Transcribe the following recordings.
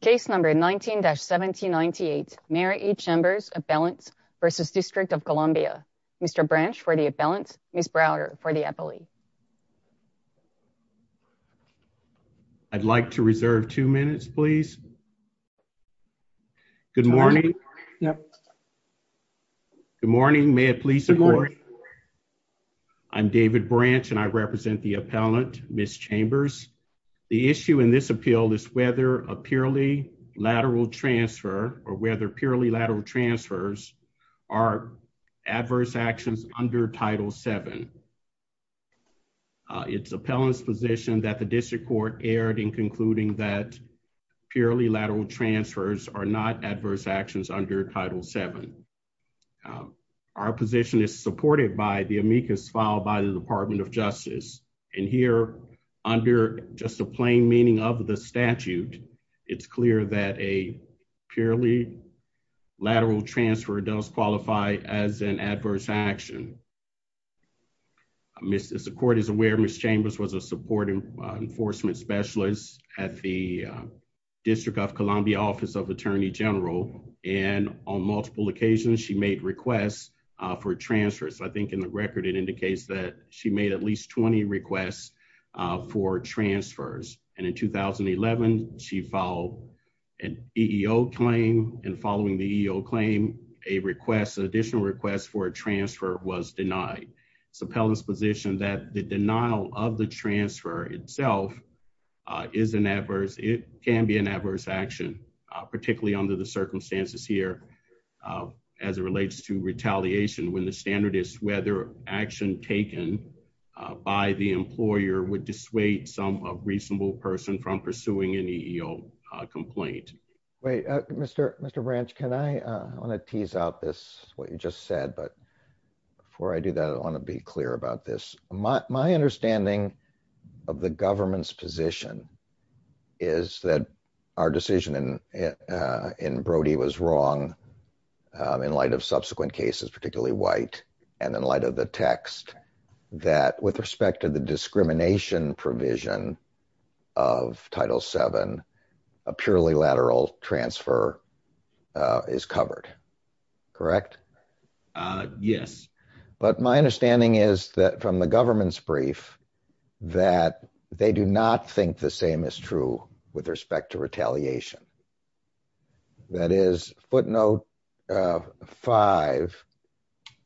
Case number 19-1798. Mayor E. Chambers. Appellants v. District of Columbia. Mr. Branch for the appellant. Ms. Browder for the appellee. I'd like to reserve two minutes please. Good morning. Good morning. May it please support. I'm David Branch and I represent the appellant, Ms. Chambers. The issue in this appeal is whether a purely lateral transfer or whether purely lateral transfers are adverse actions under Title VII. It's appellant's position that the district court erred in concluding that purely lateral transfers are not adverse actions under Title VII. Our position is supported by the amicus filed by the Department of Justice. And here, under just a plain meaning of the statute, it's clear that a purely lateral transfer does qualify as an adverse action. As the court is aware, Ms. Chambers was a support enforcement specialist at the District of Columbia Office of Attorney General. And on multiple occasions, she made requests for transfers. I think in the record it indicates that she made at least 20 requests for transfers. And in 2011, she filed an EEO claim. And following the EEO claim, a request, an additional request for a transfer was denied. It's appellant's position that the denial of the transfer itself is an adverse, it can be an adverse action, particularly under the circumstances here as it relates to retaliation when the standard is whether action taken by the employer would dissuade some reasonable person from pursuing an EEO complaint. Wait, Mr. Branch, can I, I want to tease out this, what you just said, but before I do that, I want to be clear about this. My understanding of the government's position is that our decision in Brody was wrong in light of subsequent cases, particularly White, and in light of the text, that with respect to the discrimination provision of Title VII, a purely lateral transfer is covered, correct? Yes. But my understanding is that from the government's brief, that they do not think the same is true with respect to retaliation. That is footnote five,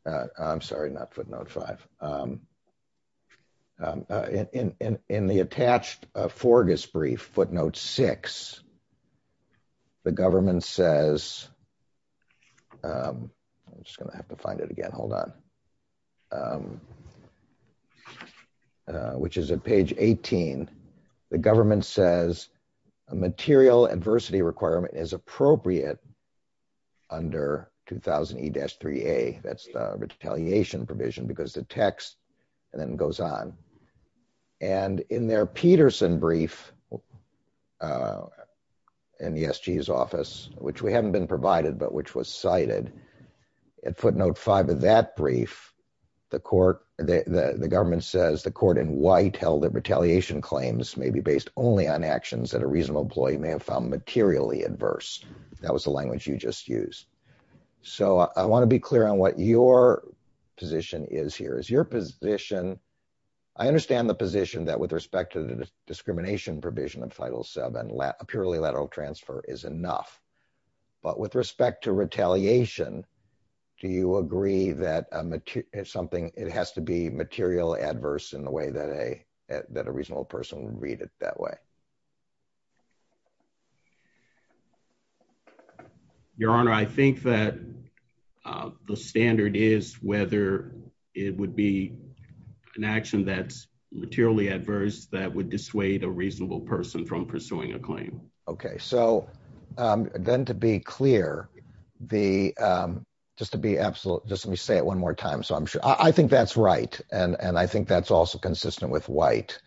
I'm sorry, not footnote five. In the attached Forgis brief, footnote six, the government says, I'm just going to have material adversity requirement as appropriate under 2000 E-3A, that's the retaliation provision, because the text then goes on. And in their Peterson brief, in the SG's office, which we haven't been provided, but which was cited, at footnote five of that brief, the court, the government says, the court in White held that retaliation claims may be based only on actions that a reasonable employee may have found materially adverse. That was the language you just used. So I want to be clear on what your position is here. Is your position, I understand the position that with respect to the discrimination provision of Title VII, a purely lateral transfer is enough. But with respect to retaliation, do you agree that something, it has to be material adverse in a way that a reasonable person would read it that way? Your Honor, I think that the standard is whether it would be an action that's materially adverse that would dissuade a reasonable person from pursuing a claim. Okay. So then to be clear, the, just to be absolute, just let me say it one more time. So I'm sure, I think that's right. And I think that's also consistent with White.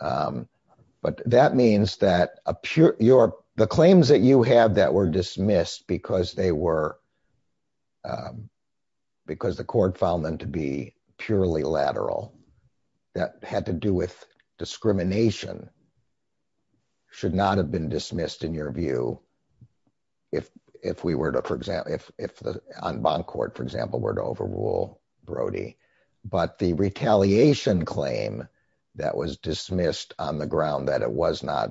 But that means that the claims that you have that were dismissed because they were, because the court found them to be purely lateral, that had to do with discrimination, should not have been dismissed in your view if we were to, for example, if on bond court, for example, were to overrule Brody. But the retaliation claim that was dismissed on the ground that it was not,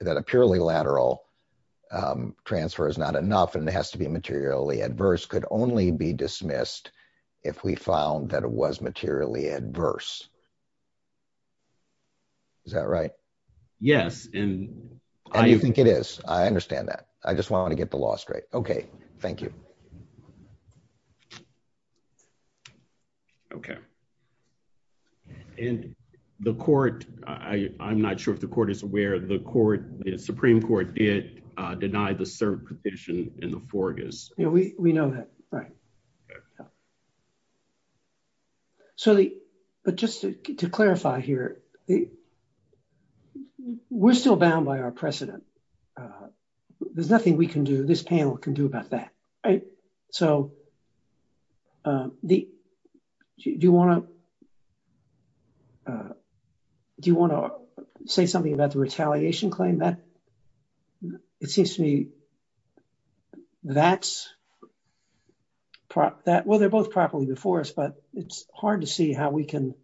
that a purely lateral transfer is not enough and it has to be materially adverse could only be dismissed if we found that it was materially adverse. Is that right? Yes. And I think it is. I understand that. I just want to get the law straight. Okay. Thank you. Okay. And the court, I'm not sure if the court is aware of the court, the Supreme Court did deny the cert petition in the Fortis. Yeah, we know that. Right. So the, but just to clarify here, the, we're still bound by our precedent. There's nothing we can do, this panel can do about that. Right. So the, do you want to, do you want to say something about the retaliation claim that, it seems to me, that's pro, that, well, they're both properly before us, but it's hard to see how we can,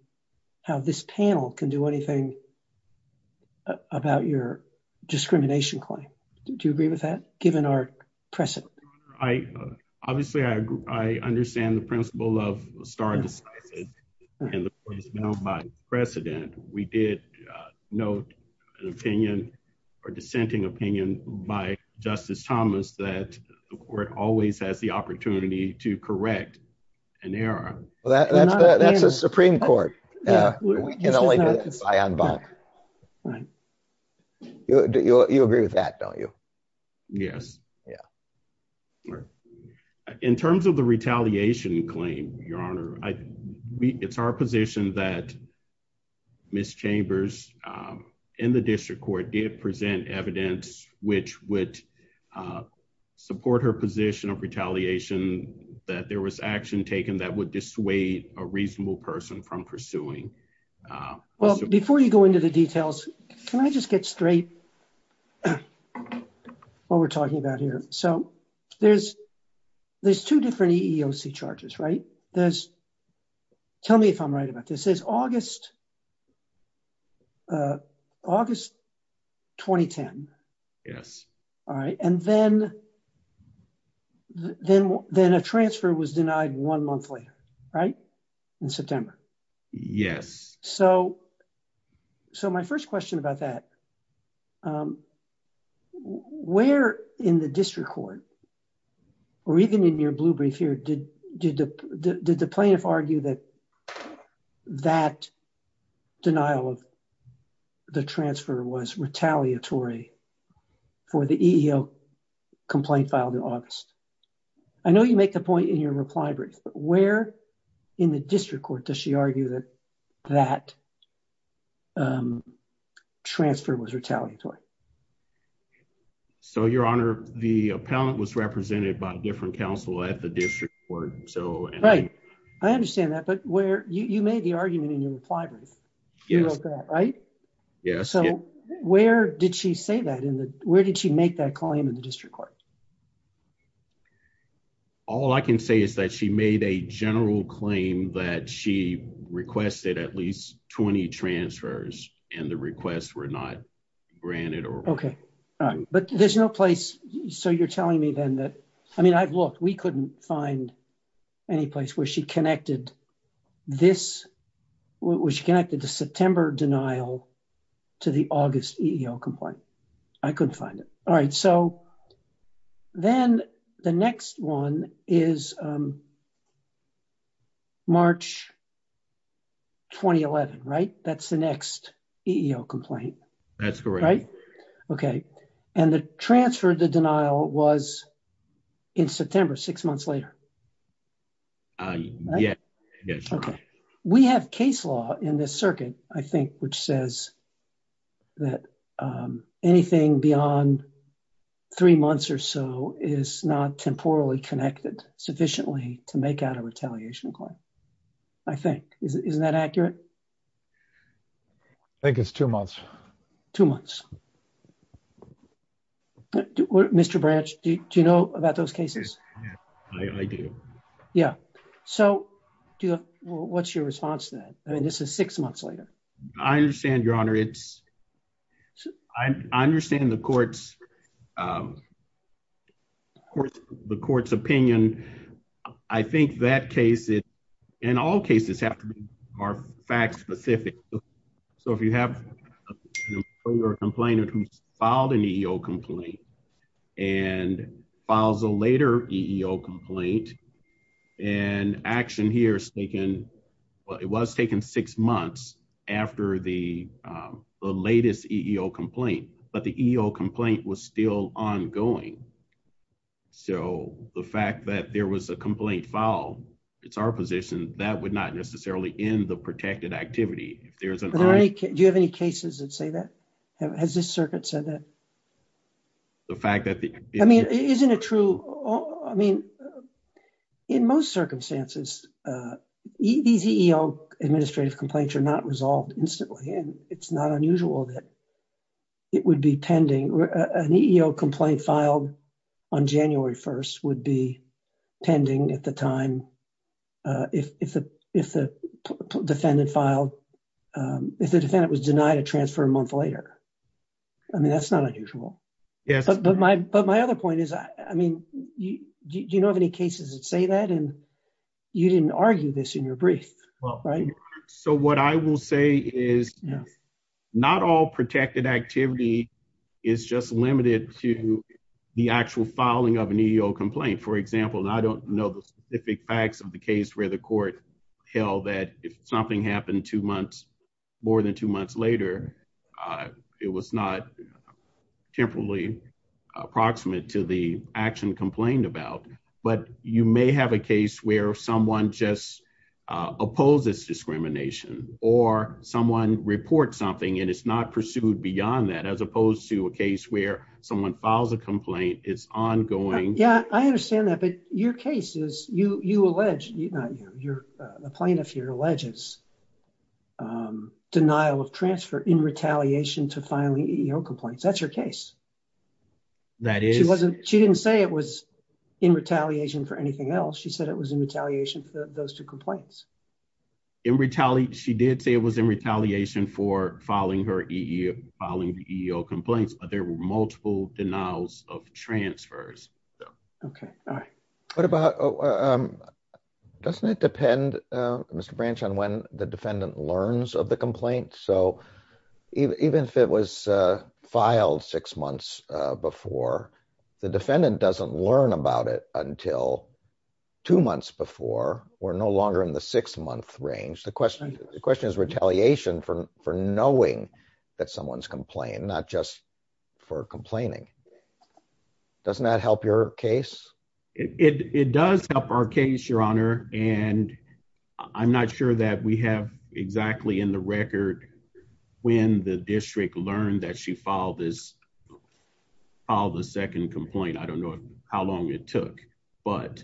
how this panel can do anything about your discrimination claim. Do you agree with that given our precedent? I, obviously I agree. I understand the principle of a star decisive and the court is bound by precedent. We did note an opinion or dissenting opinion by Justice Thomas that the court always has the opportunity to correct an error. Well, that's, that's a Supreme Court. You agree with that, don't you? Yes. Yeah. In terms of the retaliation claim, your honor, I, we, it's our position that Ms. Chambers in the district court did present evidence, which would support her position of retaliation, that there was action taken that would dissuade a reasonable person from pursuing. Well, before you go into the details, can I just get straight what we're talking about here? So there's, there's two different EEOC charges, right? There's, tell me if I'm right about this, there's August, August 2010. Yes. All right. And then, then, then a transfer was denied one month later, right? In September. Yes. So, so my first question about that, where in the district court, or even in your blue brief here, did the, did the plaintiff argue that that denial of the transfer was retaliatory for the EEOC complaint filed in August? I know you make the point in your reply brief, but where in the district court does she argue that that transfer was retaliatory? So your honor, the appellant was represented by a different counsel at the district court. So, right. I understand that, but where you, you made the argument in your reply brief, you wrote that, right? Yes. So where did she say that in the, where did she make that claim in the district court? All I can say is that she made a general claim that she requested at least 20 transfers and the requests were not granted. Okay. All right. But there's no place. So you're telling me then that, I mean, I've looked, we couldn't find any place where she connected this, where she connected the September denial to the August EEO complaint. I couldn't find it. All right. So then the next one is March 2011, right? That's the next EEO complaint. That's correct. Okay. And the transfer, the denial was in September, six months later. Yeah. Okay. We have case law in this circuit, I think, which says that anything beyond three months or so is not temporally connected sufficiently to make out a retaliation claim. I think, isn't that accurate? I think it's two months. Two months. Mr. Branch, do you know about those cases? I do. Yeah. So what's your response to that? I mean, it's, I understand the court's opinion. I think that case in all cases have to be more fact specific. So if you have a complainant who's filed an EEO complaint and files a later EEO complaint and action here is taken, well, it was taken six months after the latest EEO complaint, but the EEO complaint was still ongoing. So the fact that there was a complaint filed, it's our position that would not necessarily end the protected activity. Do you have any cases that has this circuit said that? The fact that the... I mean, isn't it true? I mean, in most circumstances, these EEO administrative complaints are not resolved instantly. And it's not unusual that it would be pending. An EEO complaint filed on January 1st would be a month later. I mean, that's not unusual. But my other point is, I mean, do you know of any cases that say that? And you didn't argue this in your brief, right? So what I will say is not all protected activity is just limited to the actual filing of an EEO complaint. For example, and I don't know the specific facts of the case where the court held that if something happened two months, more than two months later, it was not temporally approximate to the action complained about. But you may have a case where someone just opposes discrimination or someone reports something and it's not pursued beyond that, as opposed to a case where someone files a complaint, it's ongoing. Yeah, I understand that. But your case is, you allege, not you, the plaintiff here alleges denial of transfer in retaliation to filing EEO complaints. That's her case. She didn't say it was in retaliation for anything else. She said it was in retaliation for those two complaints. She did say it was in retaliation for filing the EEO complaints, but there were no EEO complaints. Okay. All right. What about, doesn't it depend, Mr. Branch, on when the defendant learns of the complaint? So even if it was filed six months before, the defendant doesn't learn about it until two months before, we're no longer in the six month range. The question is retaliation for knowing that someone's complained, not just for complaining. Doesn't that help your case? It does help our case, Your Honor. And I'm not sure that we have exactly in the record when the district learned that she filed this, filed the second complaint. I don't know how long it took, but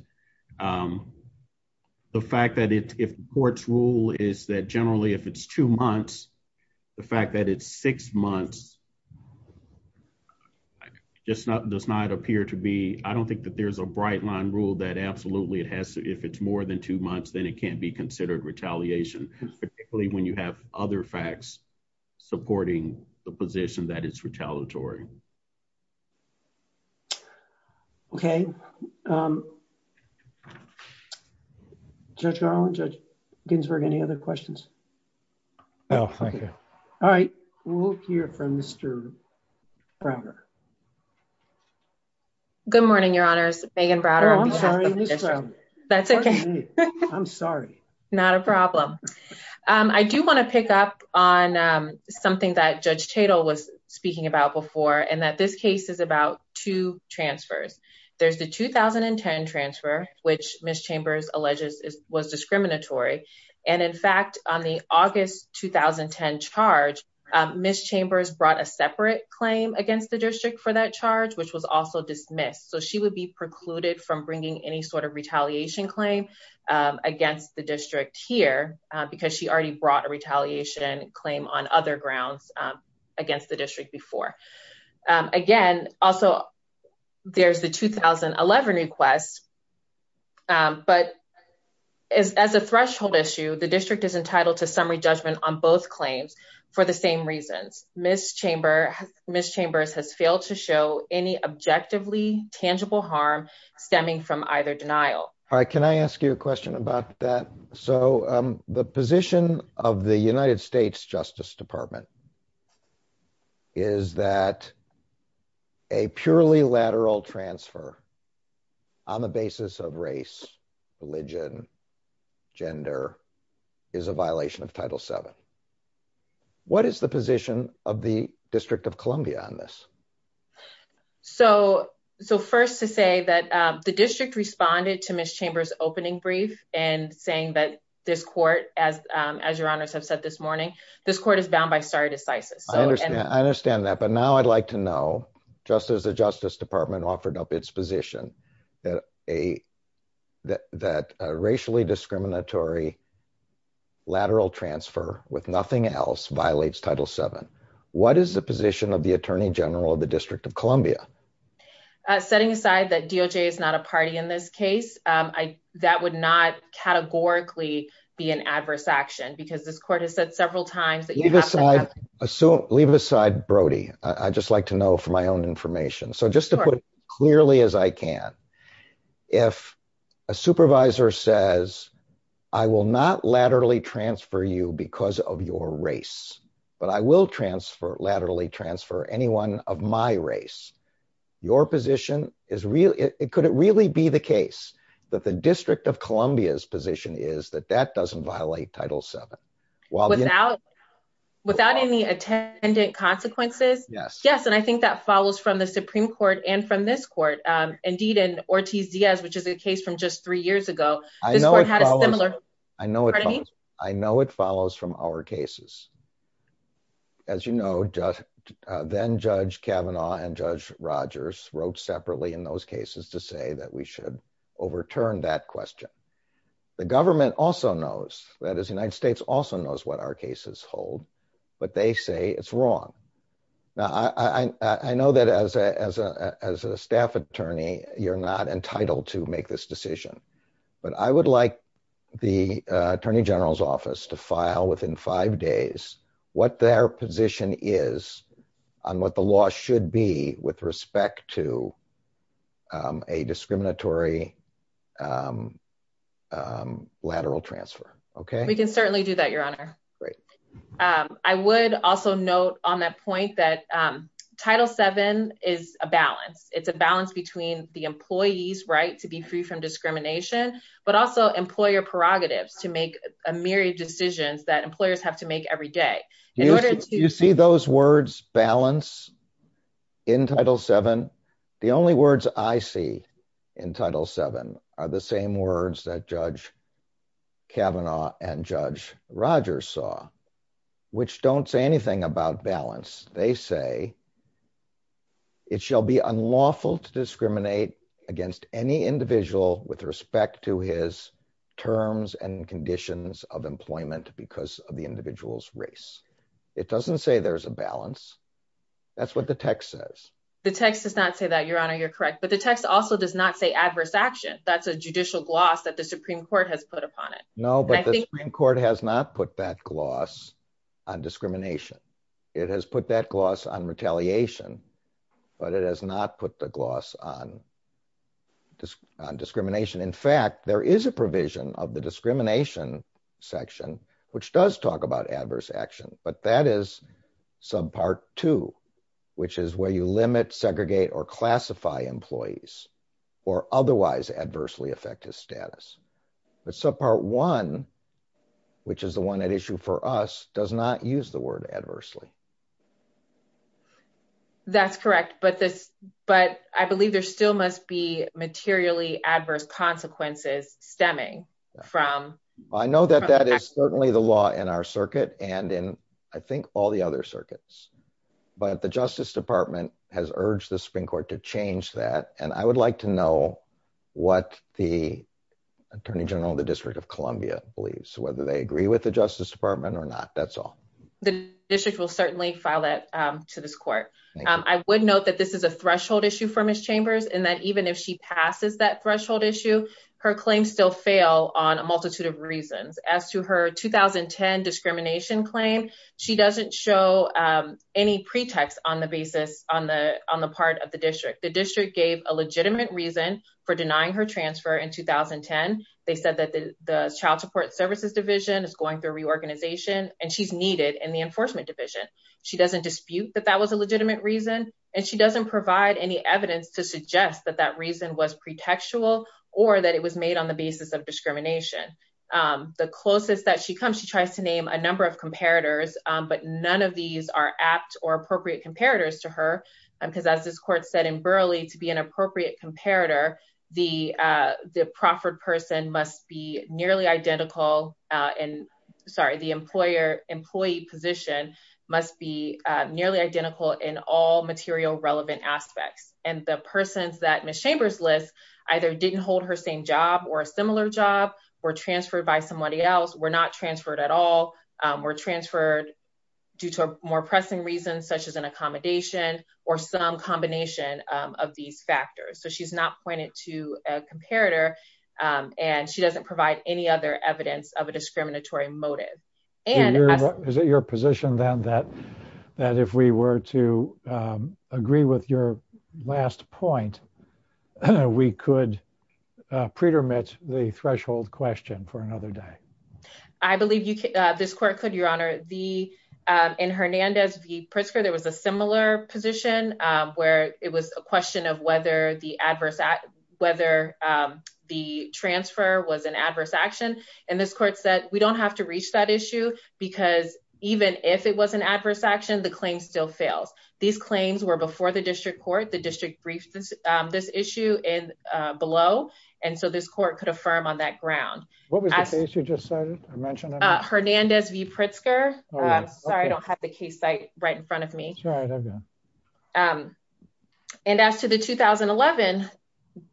the fact that if the court's rule is that generally, if it's two months, the fact that it's six months, does not appear to be, I don't think that there's a bright line rule that absolutely it has to, if it's more than two months, then it can't be considered retaliation, particularly when you have other facts supporting the position that it's retaliatory. Okay. Judge Garland, Judge Ginsburg, any other questions? No, thank you. All right. We'll hear from Mr. Browder. Good morning, Your Honors. Megan Browder. I'm sorry. That's okay. I'm sorry. Not a problem. I do want to pick up on something that Judge Tatel was and that this case is about two transfers. There's the 2010 transfer, which Ms. Chambers alleges was discriminatory. And in fact, on the August, 2010 charge, Ms. Chambers brought a separate claim against the district for that charge, which was also dismissed. So she would be precluded from bringing any sort of retaliation claim against the district here because she already brought a retaliation claim on other grounds against the district before. Again, also there's the 2011 request, but as a threshold issue, the district is entitled to summary judgment on both claims for the same reasons. Ms. Chambers has failed to show any objectively tangible harm stemming from either denial. All right. Can I ask you a question about that? So the position of the United States Justice Department is that a purely lateral transfer on the basis of race, religion, gender is a violation of Title VII. What is the position of the District of Columbia on this? So first to say that the district responded to Ms. Chambers' opening brief and saying that this court, as your honors have said this morning, this court is bound by stare decisis. I understand that. But now I'd like to know, just as the Justice Department offered up its position that a racially discriminatory lateral transfer with nothing else violates Title VII, what is the position of the Attorney General of the District of Columbia? Setting aside that DOJ is not a party in this case, that would not categorically be an adverse action because this court has said several times that you have to have- Leave it aside, Brody. I'd just like to know for my own information. So just to put it clearly as I can, if a supervisor says, I will not laterally transfer you because of your race, but I will transfer laterally transfer anyone of my race, your position is really, could it really be the case that the District of Columbia's position is that that doesn't violate Title VII? Without any attendant consequences? Yes. Yes. And I think that follows from the Supreme Court and from this court. Indeed, in Ortiz-Diaz, which is a case from just three years ago, this court had a similar- Pardon me? I know it follows from our cases. As you know, then Judge Kavanaugh and Judge Rogers wrote separately in those cases to say that we should overturn that question. The government also knows, that is, the United States also knows what our cases hold, but they say it's wrong. Now, I know that as a staff attorney, you're not entitled to make this decision, but I would like the Attorney General's Office to file within five days what their position is on what the law should be with respect to a discriminatory lateral transfer. Okay? We can certainly do that, Your Honor. Great. I would also note on that point that Title VII is a balance. It's a balance between the employee's right to be free from discrimination, but also employer prerogatives to make a myriad of decisions that employers have to make every day. In order to- You see those words, balance, in Title VII? The only words I see in Title VII are the same words that Judge Kavanaugh and Judge Rogers saw, which don't say anything about balance. They say, it shall be unlawful to discriminate against any individual with respect to his terms and conditions of employment because of the individual's race. It doesn't say there's a balance. That's what the text says. The text does not say that, Your Honor. You're correct. But the text also does not say adverse action. That's a judicial gloss that the Supreme Court has put upon it. No, but the Supreme Court has not put that gloss on discrimination. It has put that gloss on retaliation, but it has not put the gloss on discrimination. In fact, there is a provision of the discrimination section which does talk about adverse action, but that is Subpart II, which is where you limit, segregate, or classify employees or otherwise adversely affect his status. But Subpart I, which is the one at issue for us, does not use the word adversely. That's correct, but I believe there still must be materially adverse consequences stemming from- I know that that is certainly the law in our circuit and in, I think, all the other circuits, but the Justice Department has urged the Supreme Court to change that, and I would like to know what the Attorney General of the District of Columbia believes, whether they agree with the Justice Department or not. That's all. The district will certainly file that to this court. I would note that this is a threshold issue for Ms. Chambers, and that even if she passes that threshold issue, her claims still fail on a multitude of reasons. As to her 2010 discrimination claim, she doesn't show any pretext on the basis on the part of the district. The district gave a legitimate reason for denying her transfer in 2010. They said that the Child Support Services Division is going through reorganization, and she's needed in the Enforcement Division. She doesn't dispute that that was a legitimate reason, and she doesn't provide any evidence to suggest that that reason was pretextual or that it was made on the basis of discrimination. The closest that she comes, she tries to name a number of comparators, but none of these are apt or appropriate comparators to her, because as this court said in Burleigh, to be an appropriate comparator, the proffered person must be nearly identical, sorry, the employee position must be nearly identical in all material relevant aspects. The persons that Ms. Chambers lists either didn't hold her same job or a similar job, were transferred by somebody else, were not transferred at all, were transferred due to a more pressing reason, such as an to a comparator, and she doesn't provide any other evidence of a discriminatory motive. Is it your position, then, that if we were to agree with your last point, we could pretermit the threshold question for another day? I believe this court could, Your Honor. In Hernandez v. Pritzker, there was a similar position, where it was a question of whether the transfer was an adverse action, and this court said, we don't have to reach that issue, because even if it was an adverse action, the claim still fails. These claims were before the district court, the district briefed this issue below, and so this court could affirm on that ground. What was the case you just cited? Hernandez v. Pritzker. Sorry, I don't have the case site right in front of me. And as to the 2011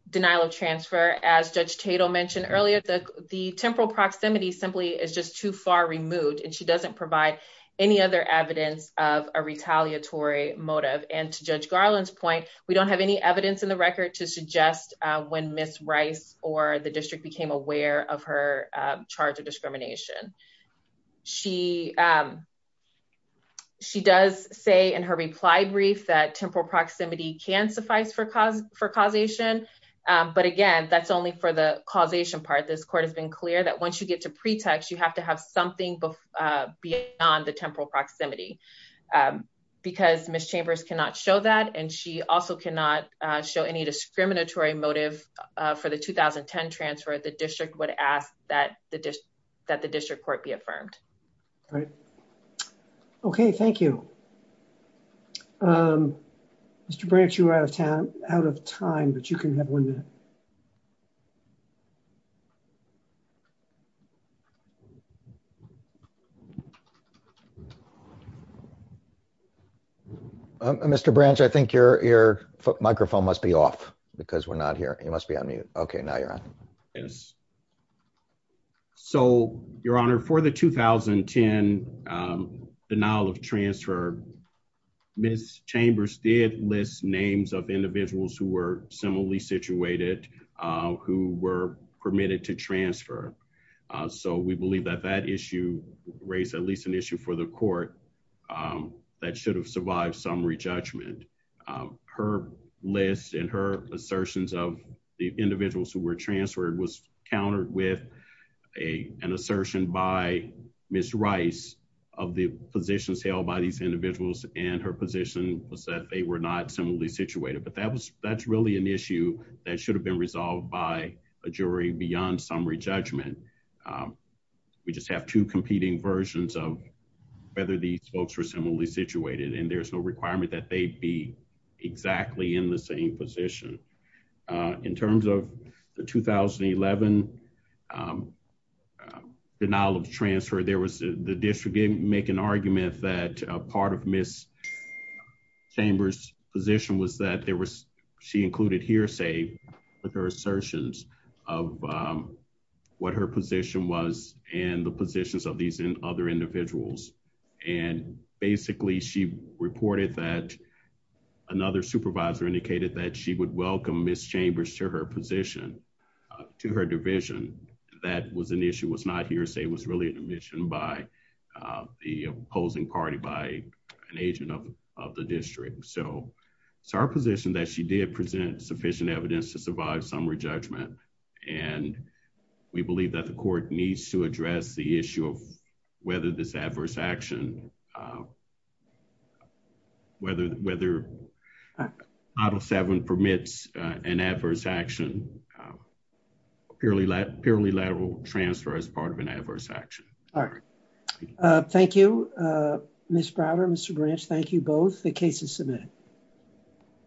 denial of transfer, as Judge Tatel mentioned earlier, the temporal proximity simply is just too far removed, and she doesn't provide any other evidence of a retaliatory motive, and to Judge Garland's point, we don't have any evidence in the record to suggest when Ms. Rice or the district became aware of her charge of discrimination. She does say in her reply brief that temporal proximity can suffice for causation, but again, that's only for the causation part. This court has been clear that once you get to pretext, you have to have something beyond the temporal proximity, because Ms. Chambers cannot show that, and she also cannot show any discriminatory motive for the 2010 transfer. The district would ask that the district court be affirmed. All right. Okay, thank you. Mr. Branch, you are out of time, but you can have one minute. Mr. Branch, I think your microphone must be off, because we're not hearing. You must be on mute. Okay, now you're on. Yes. So, Your Honor, for the 2010 denial of transfer, Ms. Chambers did list names of individuals who were similarly situated who were permitted to transfer, so we believe that that issue raised at least an issue for the court that should have survived summary judgment. Her list and her assertions of the individuals who were transferred was countered with an assertion by Ms. Rice of the positions held by these individuals, and her position was that they were not similarly situated, but that's really an issue that should have been resolved by a jury beyond summary judgment. We just have two competing versions of whether these folks were similarly situated, and there's no requirement that they be exactly in the same position. In terms of the 2011 denial of transfer, the district made an argument that part of Ms. Chambers' position was that she included hearsay with her assertions of what her position was and the positions of these other individuals, and basically, she reported that another supervisor indicated that she would welcome Ms. Chambers to her position, to her division. That was an issue. It was not hearsay. It was really an admission by the opposing party by an agent of the district. So, it's our position that she did present sufficient evidence to survive summary judgment, and we believe that the court needs to address the issue of whether this adverse action, whether Model 7 permits an adverse action, purely lateral transfer as part of an adverse action. All right. Thank you, Ms. Browder, Mr. Branch. Thank you both. The case is submitted.